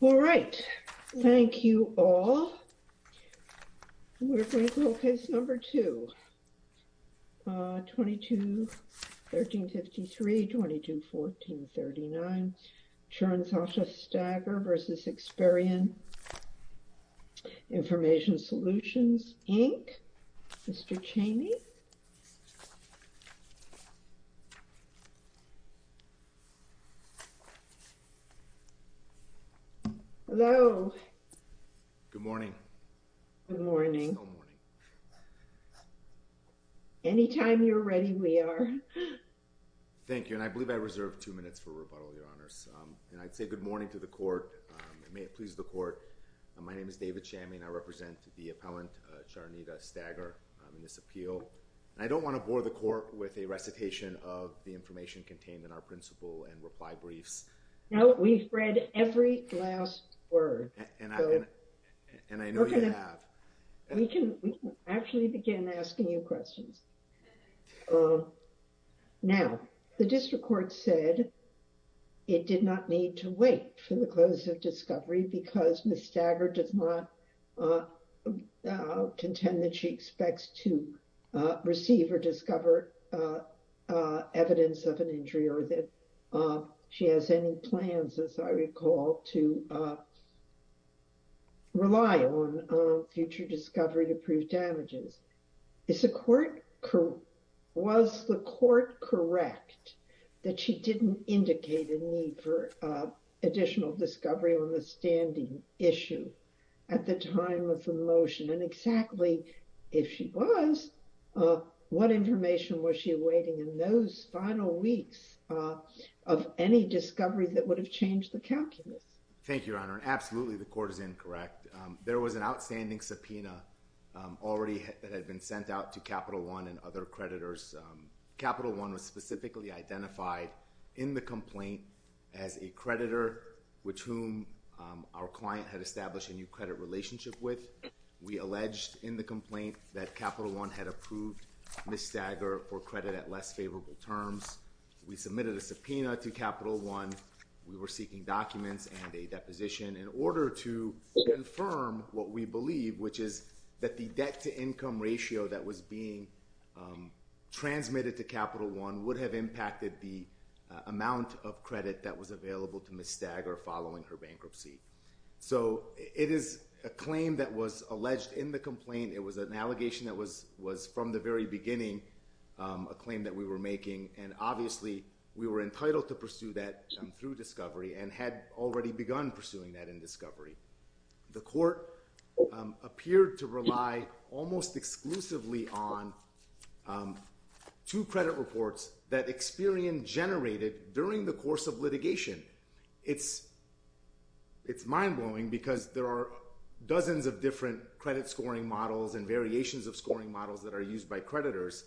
All right, thank you all. We're going to go to case number two. 22-1353, 22-1439 Cherannzetta Stagger v. Experian Information Solutions, Inc. Mr. Cheney. Hello. Good morning. Good morning. Anytime you're ready, we are. Thank you, and I welcome you to the court. May it please the court. My name is David Chammy and I represent the appellant Cherannzetta Stagger in this appeal. I don't want to bore the court with a recitation of the information contained in our principle and reply briefs. No, we've read every last word. And I know you have. We can actually begin asking you questions. Now, the district court said it did not need to wait for the close of discovery because Ms. Stagger does not contend that she expects to receive or discover evidence of an injury or that she has any plans, as I recall, to rely on future discovery to prove damages. Was the court correct that she didn't indicate a need for additional discovery on the standing issue at the time of the motion? And exactly, if she was, what information was she awaiting in those final weeks of any discovery that would have changed the calculus? Thank you, Your Honor. Absolutely, the court is incorrect. There was an outstanding subpoena already that had been sent out to Capital One and other creditors. Capital One was specifically identified in the complaint as a creditor with whom our client had established a new credit relationship with. We alleged in the complaint that Capital One had approved Ms. Stagger for credit at less favorable terms. We submitted a subpoena to Capital One. We were seeking documents and a deposition in order to confirm what we believe, which is that the debt-to-income ratio that was being transmitted to Capital One would have impacted the amount of credit that was available to Ms. Stagger following her bankruptcy. So it is a claim that was alleged in the complaint. It was an allegation that was from the very and had already begun pursuing that in discovery. The court appeared to rely almost exclusively on two credit reports that Experian generated during the course of litigation. It's mind-blowing because there are dozens of different credit scoring models and variations of scoring models that are used by creditors,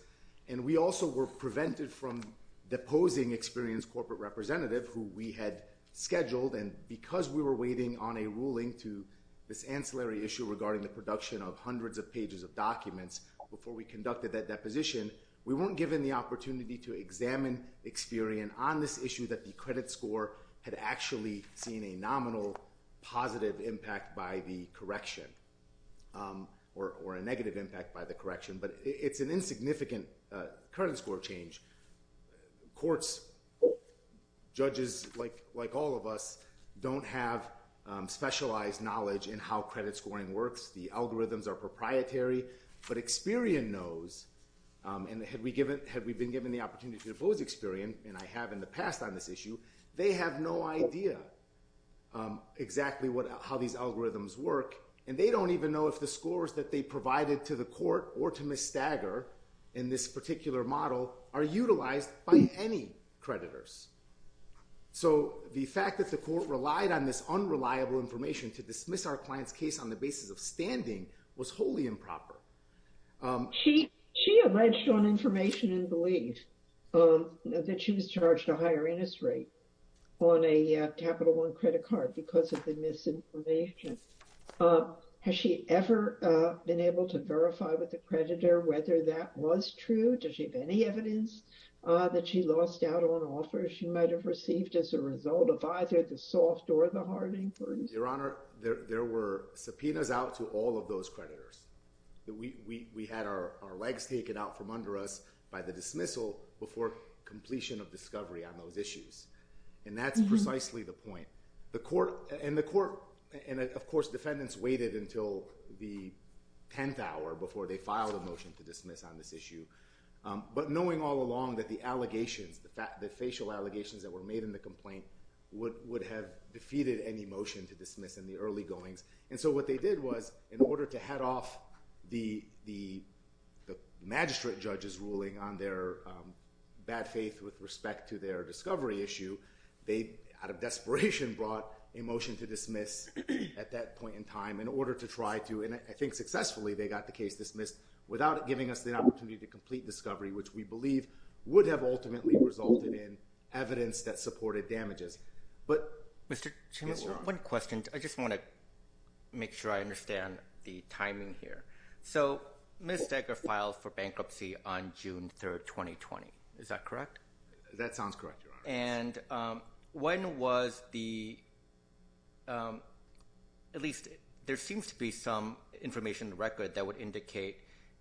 and we also were prevented from deposing Experian's corporate representative who we had scheduled, and because we were waiting on a ruling to this ancillary issue regarding the production of hundreds of pages of documents before we conducted that deposition, we weren't given the opportunity to examine Experian on this issue that the credit score had actually seen a nominal positive impact by the correction or a negative impact by the correction, but it's an insignificant credit score change. Courts, judges like all of us don't have specialized knowledge in how credit scoring works. The algorithms are proprietary, but Experian knows, and had we been given the opportunity to depose Experian, and I have in the past on this issue, they have no idea exactly how these algorithms work, and they don't even know if the scores that they provided to the court or to Ms. Stagger in this particular model are utilized by any creditors, so the fact that the court relied on this unreliable information to dismiss our client's case on the basis of standing was wholly improper. She alleged on information and believed that she was charged a higher interest rate on a Capital One credit card because of the misinformation. Has she ever been able to verify with the creditor whether that was true? Does she have any evidence that she lost out on offers she might have received as a result of either the soft or the hard inference? Your Honor, there were subpoenas out to all of those creditors. We had our legs taken out from under us by the dismissal before completion of discovery on those issues, and that's precisely the point. And of course, defendants waited until the 10th hour before they filed a motion to dismiss on this issue, but knowing all along that the allegations, the facial allegations that were made in the complaint would have defeated any motion to dismiss in the early goings, and so what they did was, in order to head off the magistrate judge's ruling on their bad faith with respect to their discovery issue, they, out of desperation, brought a motion to dismiss at that point in time in order to try to, and I think successfully, they got the case dismissed without it giving us the opportunity to complete discovery, which we believe would have ultimately resulted in evidence that supported damages. Mr. Chairman, one question. I just want to make sure I understand the timing here. So Ms. Steger filed for bankruptcy on June 3rd, 2020. Is that correct? That sounds correct, Your Honor. And when was the, at least there seems to be some information in the record that would indicate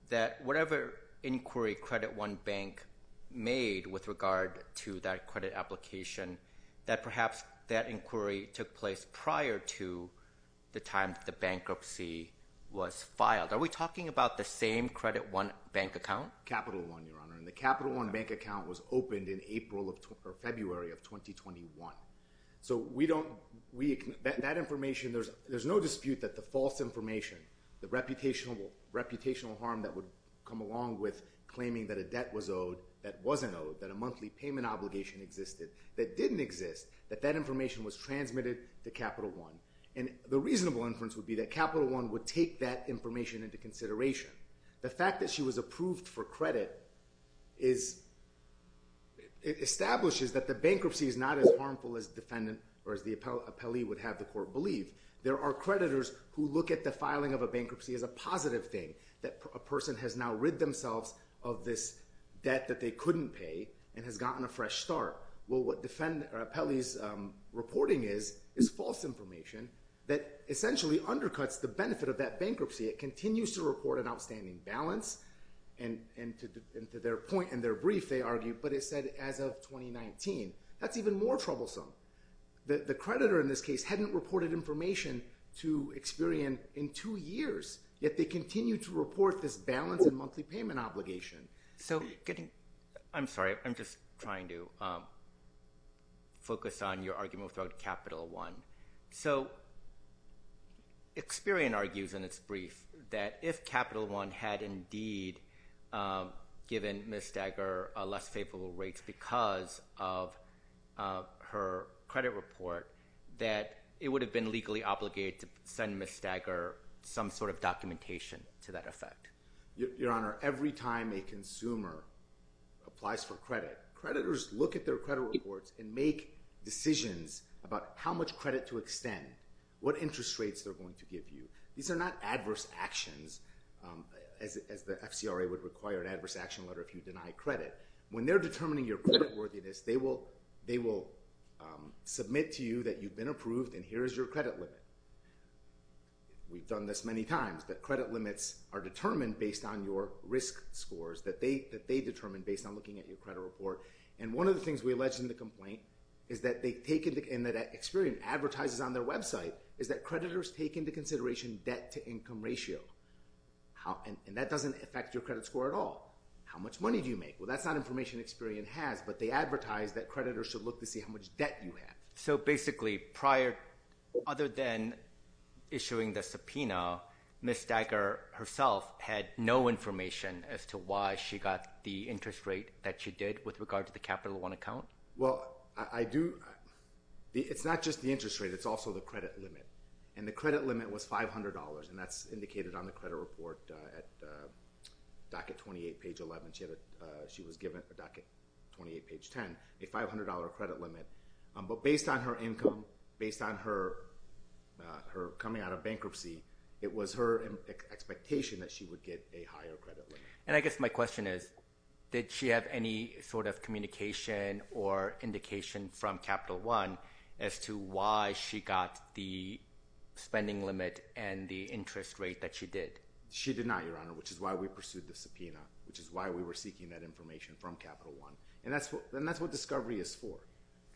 that whatever inquiry Credit One Bank made with regard to that credit application that perhaps that inquiry took place prior to the time the bankruptcy was filed. Are we talking about the same Credit One Bank account? Capital One, Your Honor, and the Capital One Bank account was opened in April of, or February of 2021. So we don't, we, that information, there's no dispute that the false information, the reputational harm that would come along with claiming that a debt was owed that wasn't owed, that a monthly payment obligation existed that didn't exist, that that information was transmitted to Capital One. And the reasonable inference would be that Capital One would take that information into consideration. The fact that she was approved for credit is, it establishes that the bankruptcy is not as harmful as defendant or as the appellee would have the court believe. There are creditors who look at the filing of a bankruptcy as a positive thing, that a person has now rid themselves of this debt that they couldn't pay and has gotten a fresh start. Well, what defendant or appellee's reporting is, is false information that essentially undercuts the benefit of that bankruptcy. It continues to report an outstanding balance and to their point in their brief, they argue, but it said as of 2019, that's even more troublesome. The creditor in this case hadn't reported information to Experian in two years, yet they continue to report this balance and monthly payment obligation. So getting... I'm sorry, I'm just trying to focus on your argument with regard to Capital One. So Experian argues in its brief that if Capital One had indeed given Ms. Stagger less favorable rates because of her credit report, that it would have been legally obligated to send Ms. Stagger some sort of documentation to that effect. Your Honor, every time a consumer applies for credit, creditors look at their credit reports and make decisions about how much credit to extend, what interest rates they're going to give you. These are not adverse actions as the FCRA would require an adverse action letter if you deny credit. When they're determining your credit worthiness, they will submit to you that you've been approved and here's your credit limit. We've done this many times, that credit limits are determined based on your risk scores, that they determine based on looking at your credit report. And one of the things we allege in the complaint is that Experian advertises on their website is that creditors take into consideration debt to income ratio. And that doesn't affect your credit score at all. How much money do you make? Well, that's not information Experian has, but they advertise that creditors should look to see how much debt you have. So basically prior, other than issuing the subpoena, Ms. Stagger herself had no information as to why she got the interest rate that she did with regard to the Capital One account? Well, it's not just the interest rate, it's also the credit limit. And the credit limit was $500, and that's indicated on the credit report at docket 28, page 11. She was given a docket 28, based on her coming out of bankruptcy, it was her expectation that she would get a higher credit limit. And I guess my question is, did she have any sort of communication or indication from Capital One as to why she got the spending limit and the interest rate that she did? She did not, Your Honor, which is why we pursued the subpoena, which is why we were seeking that information from Capital One. And that's what discovery is for.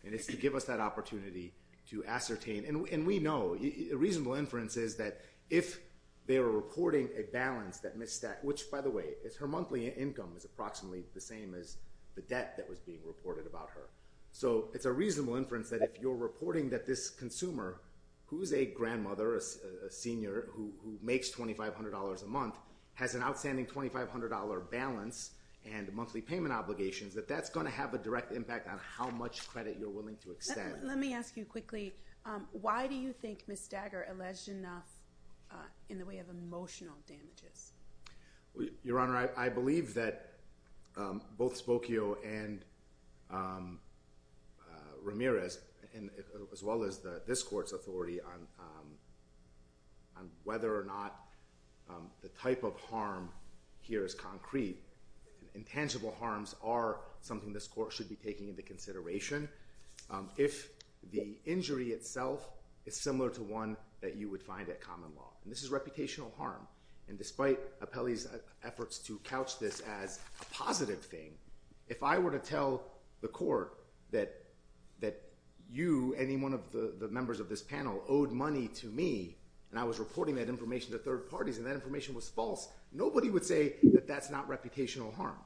And it's to give us that opportunity to ascertain. And we know, a reasonable inference is that if they were reporting a balance that Ms. Stagger, which, by the way, is her monthly income is approximately the same as the debt that was being reported about her. So it's a reasonable inference that if you're reporting that this consumer, who's a grandmother, a senior who makes $2,500 a month, has an outstanding $2,500 balance and monthly payment obligations, that that's going to have a direct credit you're willing to extend. Let me ask you quickly, why do you think Ms. Stagger alleged enough in the way of emotional damages? Your Honor, I believe that both Spokio and Ramirez, as well as this Court's authority on whether or not the type of harm here is concrete, intangible harms are something this Court should be taking into consideration if the injury itself is similar to one that you would find at common law. And this is reputational harm. And despite Appelli's efforts to couch this as a positive thing, if I were to tell the Court that you, any one of the members of this panel, owed money to me, and I was reporting that information to third parties, and that information was false, nobody would say that that's not reputational harm.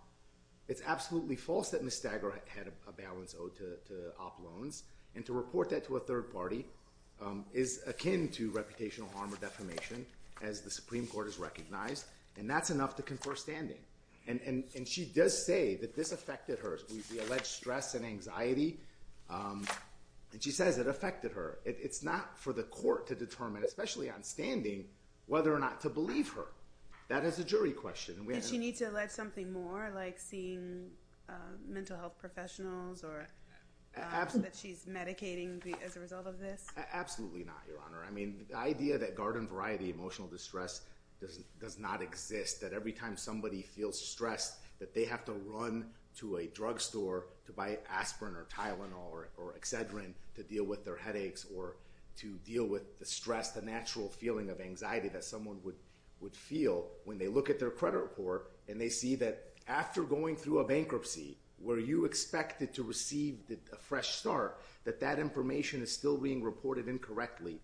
It's absolutely false that Ms. Stagger had a balance owed to op loans. And to report that to a third party is akin to reputational harm or defamation, as the Supreme Court has recognized. And that's enough to confer standing. And she does say that this affected her, the alleged stress and anxiety. And she says it affected her. It's not for the Court to determine, especially on standing, whether or not to believe her. That is a jury question. And we have to... Did she need to allege something more, like seeing mental health professionals, or that she's medicating as a result of this? Absolutely not, Your Honor. I mean, the idea that garden variety emotional distress does not exist, that every time somebody feels stressed, that they have to run to a drug store to buy aspirin or Tylenol or Excedrin to deal with their headaches, or to deal with the stress, the natural feeling of anxiety that someone would feel when they look at their credit report, and they see that after going through a bankruptcy, where you expected to receive a fresh start, that that information is still being reported incorrectly.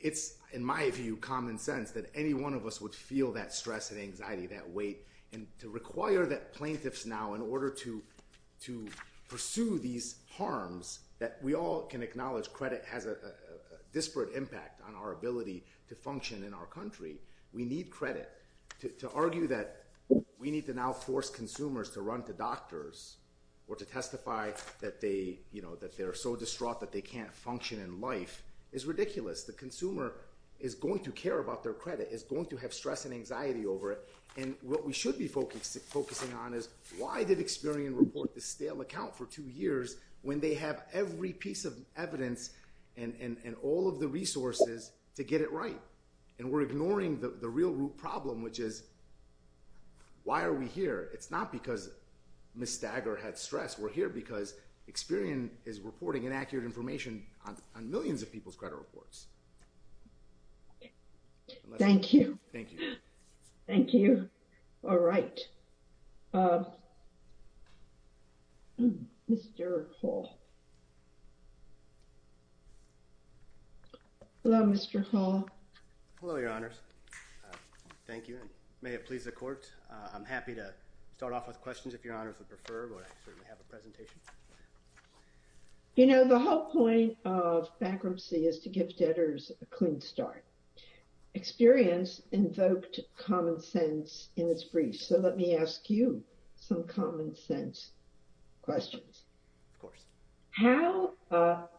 It's, in my view, common sense that any one of us would feel that stress and anxiety, that weight. And to require that plaintiffs now, in order to pursue these harms, that we all can acknowledge credit has a disparate impact on our ability to function in our country, we need credit. To argue that we need to now force consumers to run to doctors, or to testify that they're so distraught that they can't function in life, is ridiculous. The consumer is going to care about their credit, is going to have stress and anxiety over it. And what we should be focusing on is, why did Experian report this stale account for two years, when they have every piece of evidence and all of the resources to get it right? And we're ignoring the real root problem, which is, why are we here? It's not because Ms. Stagger had stress. We're here because Experian is reporting inaccurate information on millions of people's credit reports. Thank you. Thank you. All right. Mr. Hall. Hello, Mr. Hall. Hello, Your Honors. Thank you, and may it please the Court. I'm happy to start off with questions, if Your Honors would prefer, but I certainly have a presentation. You know, the whole point of bankruptcy is to give debtors a clean start. Experian's invoked common sense in its brief, so let me ask you some common sense questions. Of course. How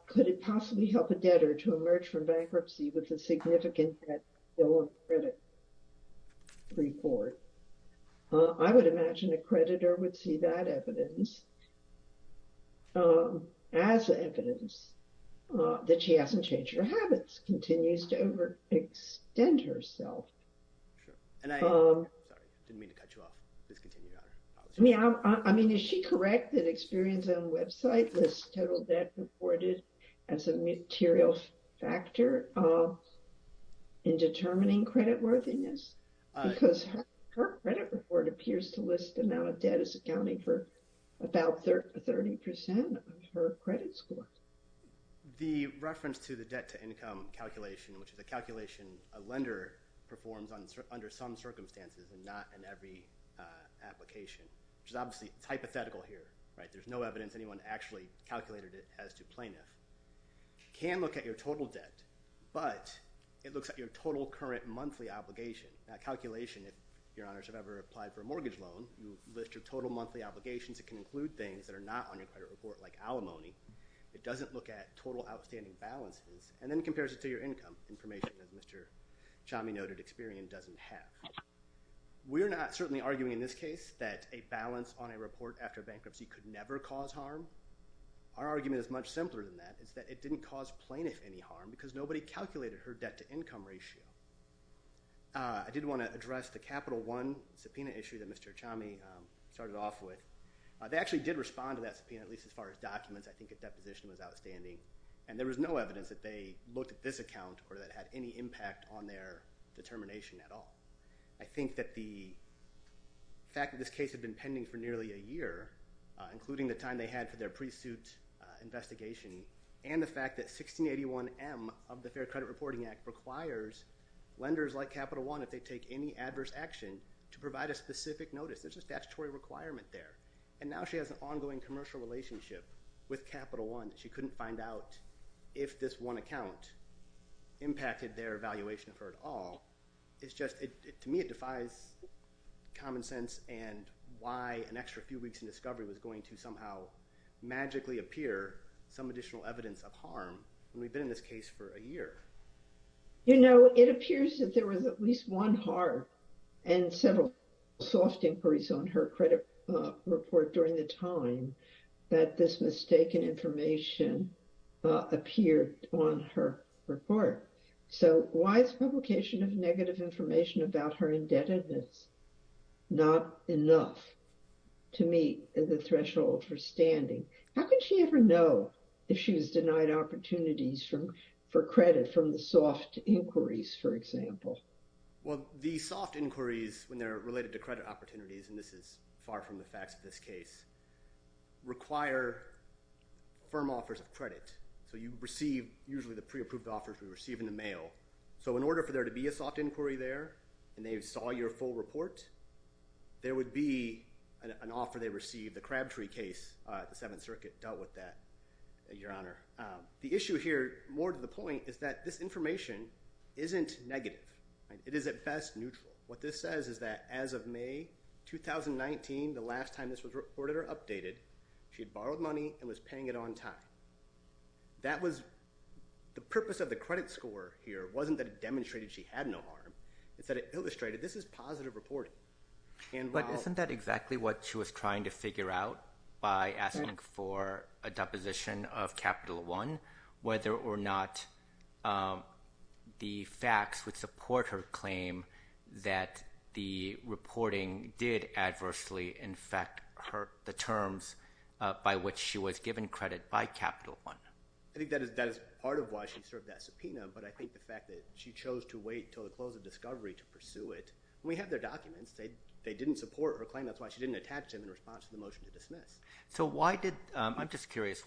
could it possibly help a debtor to emerge from bankruptcy with a significant debt still on credit report? I would imagine a creditor would see that evidence as evidence that she hasn't changed her habits, continues to overextend herself. Sure. And I, sorry, didn't mean to cut you off. Please continue, Your Honor. I mean, is she correct that Experian's own website lists total debt reported as a material factor in determining creditworthiness? Because her credit report appears to list the amount of debt as accounting for about 30 percent of her credit score. The reference to the debt-to-income calculation, which is a calculation a lender performs under some circumstances and not in every application, which is obviously hypothetical here, right? Can look at your total debt, but it looks at your total current monthly obligation. That calculation, if Your Honors have ever applied for a mortgage loan, you list your total monthly obligations. It can include things that are not on your credit report like alimony. It doesn't look at total outstanding balances, and then compares it to your income information, as Mr. Chami noted, Experian doesn't have. We're not certainly arguing in this case that a balance on a report after bankruptcy could never cause harm. Our argument is much simpler than that. It's that it didn't cause plaintiff any harm because nobody calculated her debt-to-income ratio. I did want to address the Capital One subpoena issue that Mr. Chami started off with. They actually did respond to that subpoena, at least as far as documents. I think a deposition was outstanding, and there was no evidence that they looked at this account or that it had any impact on their determination at all. I think that the fact that this case had been pending for nearly a year, including the time they had for their pre-suit investigation, and the fact that 1681M of the Fair Credit Reporting Act requires lenders like Capital One, if they take any adverse action, to provide a specific notice. There's a statutory requirement there, and now she has an ongoing commercial relationship with Capital One that she couldn't find out if this one account impacted their evaluation of her at all. To me, it defies common sense and why an extra few weeks in discovery was going to somehow magically appear some additional evidence of harm when we've been in this case for a year. You know, it appears that there was at least one harm and several soft inquiries on her credit report during the time that this mistaken information appeared on her report. So, why is publication of negative information about her indebtedness not enough to meet the threshold for standing? How could she ever know if she was denied opportunities for credit from the soft inquiries, for example? Well, the soft inquiries, when they're related to credit opportunities, and this is far from the facts of this case, require firm offers of credit. So, you receive usually the pre-approved offers we receive in the mail. So, in order for there to be a soft inquiry there, and they saw your full report, there would be an offer they received. The Crabtree case at the Seventh Circuit dealt with that, Your Honor. The issue here, more to the point, is that this information isn't negative. It is at best neutral. What this says is that as of May 2019, the last time this was reported or updated, she had borrowed money and was paying it on time. That was the purpose of the credit score here. It wasn't that it demonstrated she had no harm. It's that it illustrated this is positive reporting. But isn't that exactly what she was trying to figure out by asking for a deposition of Capital One, whether or not the facts would support her claim that the reporting did adversely, in fact, hurt the terms by which she was given credit by Capital One? I think that is part of why she served that subpoena. But I think the fact that she chose to wait until the close of discovery to pursue it. We have their documents. They didn't support her claim. That's why she didn't attach them in response to the motion to dismiss. So, why did... I'm just curious.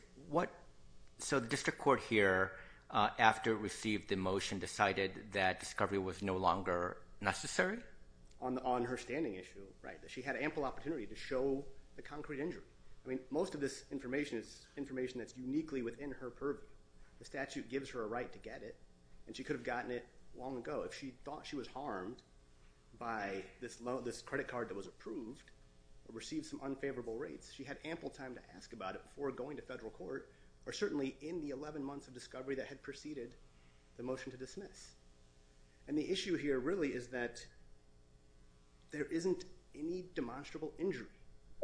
So, the district court here, after it received the motion, decided that discovery was no longer necessary? On her standing issue, right. She had ample opportunity to show the concrete injury. Most of this information is information that's uniquely within her purview. The statute gives her a right to get it, and she could have gotten it long ago. If she thought she was harmed by this credit card that was approved, or received some unfavorable rates, she had ample time to ask about it before going to federal court, or certainly in the 11 months of discovery that had preceded the motion to dismiss. And the issue here really is that there isn't any demonstrable injury,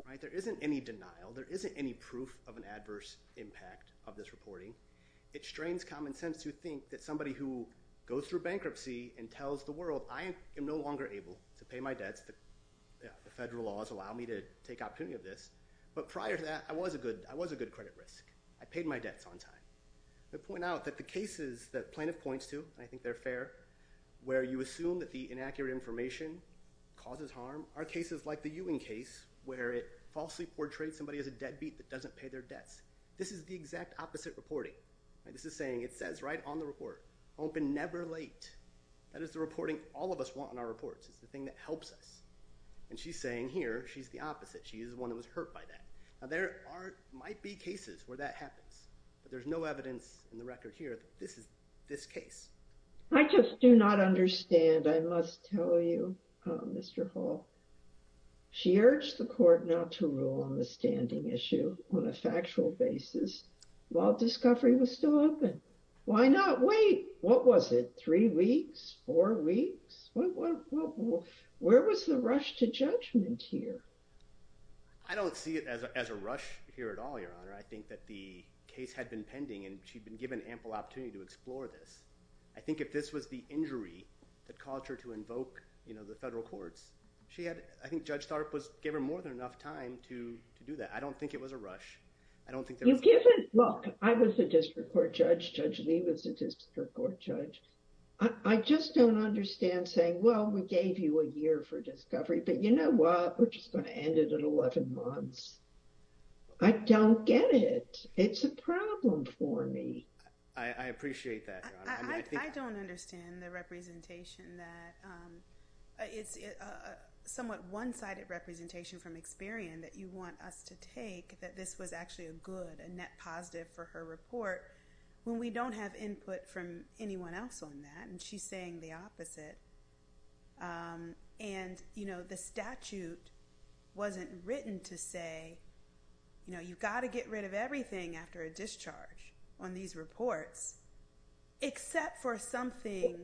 right. There isn't any denial. There isn't any proof of an adverse impact of this reporting. It strains common sense to think that somebody who goes through bankruptcy and tells the world, I am no longer able to pay my debts. The federal laws allow me to take opportunity of this. But prior to that, I was a good credit risk. I paid my debts on time. I point out that the cases that plaintiff points to, and I think they're fair, where you hear information, causes harm, are cases like the Ewing case, where it falsely portrays somebody as a deadbeat that doesn't pay their debts. This is the exact opposite reporting. This is saying, it says right on the report, open never late. That is the reporting all of us want in our reports. It's the thing that helps us. And she's saying here, she's the opposite. She is the one that was hurt by that. Now there might be cases where that happens, but there's no evidence in the Mr. Hall. She urged the court not to rule on the standing issue on a factual basis while discovery was still open. Why not wait? What was it? Three weeks, four weeks? Where was the rush to judgment here? I don't see it as a rush here at all, Your Honor. I think that the case had been pending and she'd been given ample opportunity to explore this. I think if this was the injury that caused her to invoke the federal courts, she had, I think Judge Tharp was given more than enough time to do that. I don't think it was a rush. I don't think that- You've given, look, I was a district court judge, Judge Lee was a district court judge. I just don't understand saying, well, we gave you a year for discovery, but you know what? We're just going to end it at 11 months. I don't get it. It's a problem for me. I appreciate that, Your Honor. I don't understand the representation that, it's a somewhat one-sided representation from Experian that you want us to take that this was actually a good, a net positive for her report when we don't have input from anyone else on that, and she's saying the opposite. The statute wasn't written to say you've got to get rid of everything after a discharge on these reports, except for something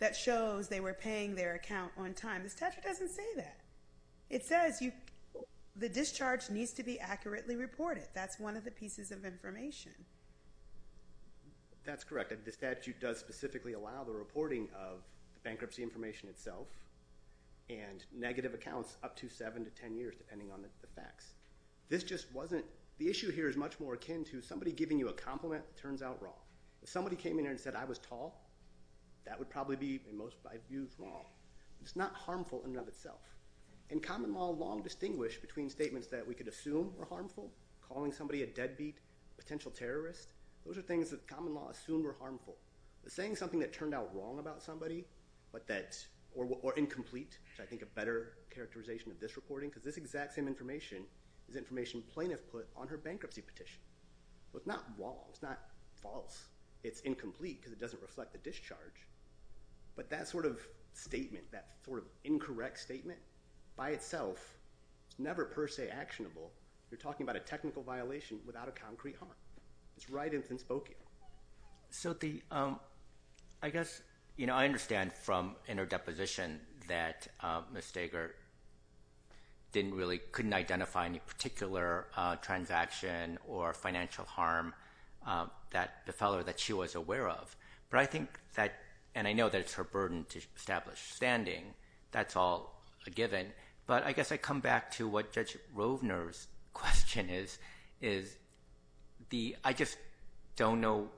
that shows they were paying their account on time. The statute doesn't say that. It says the discharge needs to be accurately reported. That's one of the pieces of information. That's correct. The statute does specifically allow the reporting of the bankruptcy information itself and negative accounts up to seven to 10 years, depending on the facts. This just wasn't, the issue here is much more akin to somebody giving you a compliment that turns out wrong. If somebody came in here and said I was tall, that would probably be, in most views, wrong. It's not harmful in and of itself, and common law long distinguished between statements that we could assume were harmful, calling somebody a deadbeat, potential terrorist. Those are things that common law assumed were harmful. Saying something that turned out wrong about somebody, or incomplete, which I think a better characterization of this reporting, because this exact same information is information plaintiff put on her bankruptcy petition. It's not wrong. It's not false. It's incomplete, because it doesn't reflect the discharge, but that sort of statement, that sort of incorrect statement, by itself, it's never per se actionable. You're talking about a technical violation without a concrete harm. It's right infant spoke. I guess I understand from interdeposition that Ms. Steger didn't really, couldn't identify any particular transaction or financial harm that the fellow that she was aware of, but I think that, and I know that it's her burden to establish standing. That's all a given, but I guess I come back to what Judge Rovner's question is. I just don't know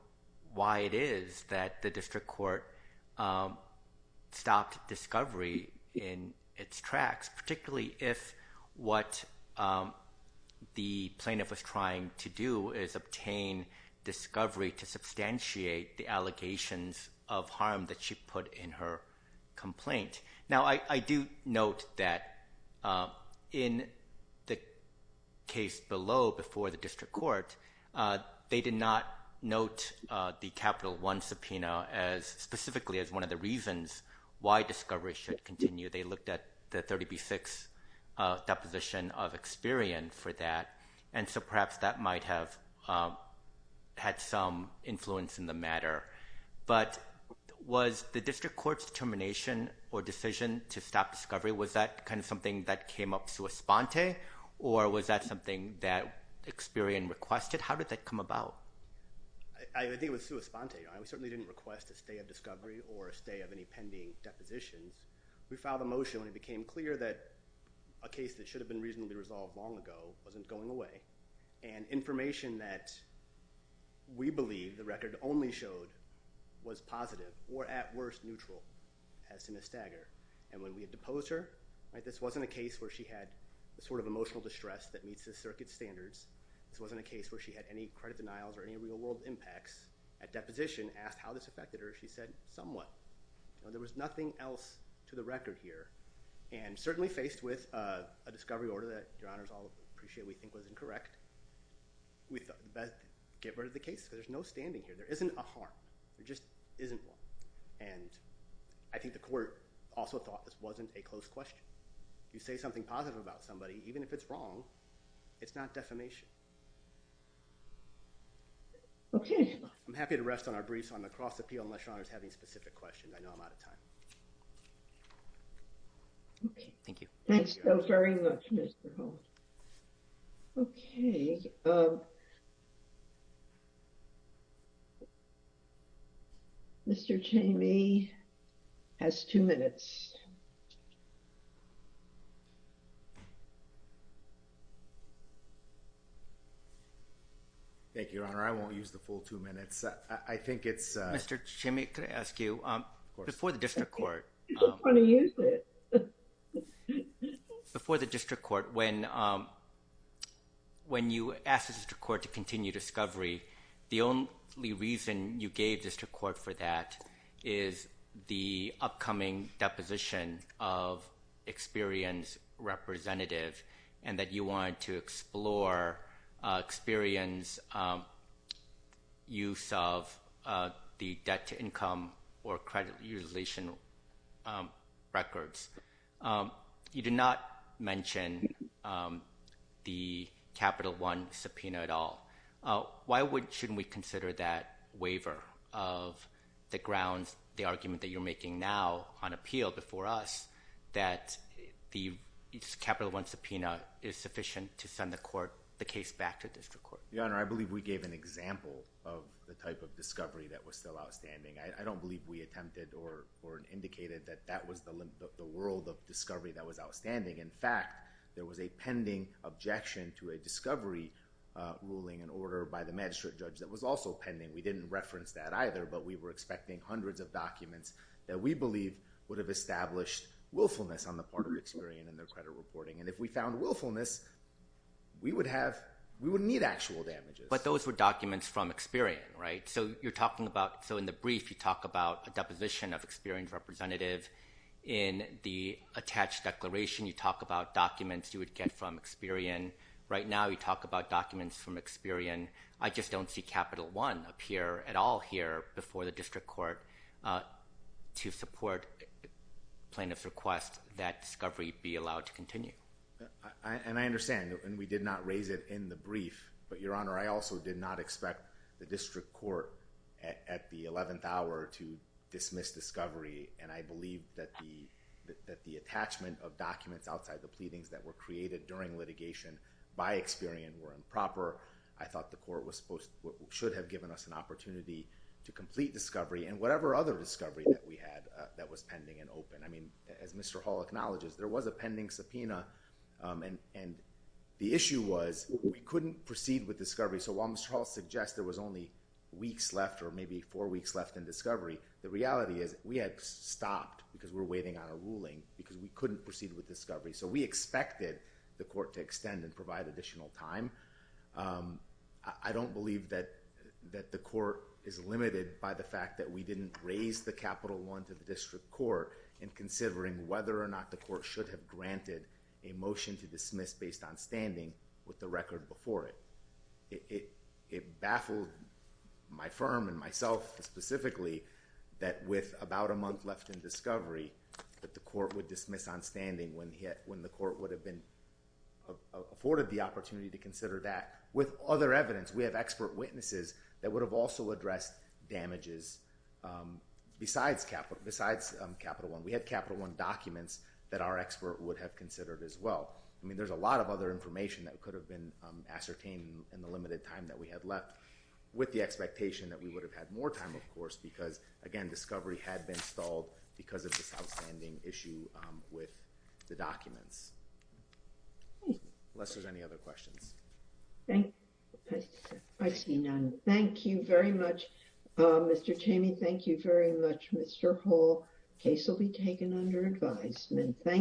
why it is that the district court stopped discovery in its tracks, particularly if what the plaintiff was trying to do is obtain discovery to substantiate the allegations of harm that she put in her complaint. Now, I do note that in the case below, before the district court, they did not note the Capital One subpoena specifically as one of the reasons why discovery should continue. They looked at the 30B6 deposition of Experian for that, and so perhaps that might have had some influence in the matter, but was the district court's determination or decision to stop discovery, was that something that came up sua sponte, or was that something that Experian requested? How did that come about? I think it was sua sponte. We certainly didn't request a stay of discovery or a stay of any pending depositions. We filed a motion when it became clear that a case that should have been reasonably resolved long ago wasn't going away, and information that we believe the record only showed was positive, or at worst neutral, as to Ms. Stagger. And when we had deposed her, this wasn't a case where she had the sort of emotional distress that meets the circuit standards. This wasn't a case where she had any credit denials or any real-world impacts. At deposition, asked how this affected her, she said, somewhat. There was nothing else to the record here, and certainly faced with a discovery order that your honors all appreciate we think was incorrect, we thought the best get rid of the case because there's no standing here. There isn't a harm. There just isn't one, and I think the court also thought this wasn't a close question. You say something positive about somebody, even if it's wrong, it's not defamation. I'm happy to rest on our briefs on the cross appeal unless your honors have any specific questions. I know I'm out of time. Okay. Thank you. Thanks so very much, Mr. Holt. Okay. Mr. Chamey has two minutes. Thank you, your honor. I won't use the full two minutes. I think it's... Mr. Chamey, can I ask you, before the district court... Before the district court, when you asked the district court to continue discovery, the only reason you gave district court for that is the upcoming deposition of experience representative and that you wanted to explore experience use of the debt to income or credit utilization records. You did not mention the Capital One subpoena at all. Why shouldn't we consider that waiver of the grounds, the argument that you're making now on appeal before us, that the Capital One subpoena is sufficient to send the case back to district court? Your honor, I believe we gave an example of the type of discovery that was still outstanding. I don't believe we attempted or indicated that that was the world of discovery that was outstanding. In fact, there was a pending objection to a discovery ruling and order by the magistrate judge that was also pending. We didn't reference that either, but we were expecting hundreds of documents that we believe would have established willfulness on the part of Experian and their credit reporting. And if we found willfulness, we would need actual damages. But those were documents from Experian, right? So you're talking about... So in the brief, you talk about a deposition of experience representative. In the attached declaration, you talk about documents you would get from Experian. Right now, you talk about documents from Experian. I just don't see Capital One appear at all here before the district court to support plaintiff's request that discovery be allowed to continue. And I understand, and we did not raise it in the brief, but your honor, I also did not expect the district court at the 11th hour to dismiss discovery. And I believe that the attachment of documents outside the pleadings that were created during litigation by Experian were improper. I thought the court should have given us an opportunity to complete discovery and whatever other discovery that we had that was pending and open. I mean, as Mr. Hall acknowledges, there was a pending subpoena and the issue was we couldn't proceed with discovery. So while Mr. Hall suggests there was only weeks left or maybe four weeks left in discovery, the reality is we had stopped because we're waiting on a ruling because we couldn't proceed with discovery. So we expected the court to extend and provide additional time. I don't believe that the court is limited by the fact that we didn't raise the Capital One to the district court in considering whether or not the court should have granted a motion to dismiss based on standing with the record before it. It baffled my firm and myself specifically that with about a month left in discovery that the court would dismiss on standing when the court would have been afforded the opportunity to consider that. With other evidence, we have expert witnesses that would have also addressed damages besides Capital One. We had Capital One documents that our expert would have considered as well. I mean, there's a lot of other information that could have been ascertained in the limited time that we had left with the expectation that we would have had more time, of course, because, again, discovery had been stalled because of this outstanding issue with the documents. Unless there's any other questions. I see none. Thank you very much, Mr. Tamey. Thank you very much, Mr. Hall. Case will be taken under advisement.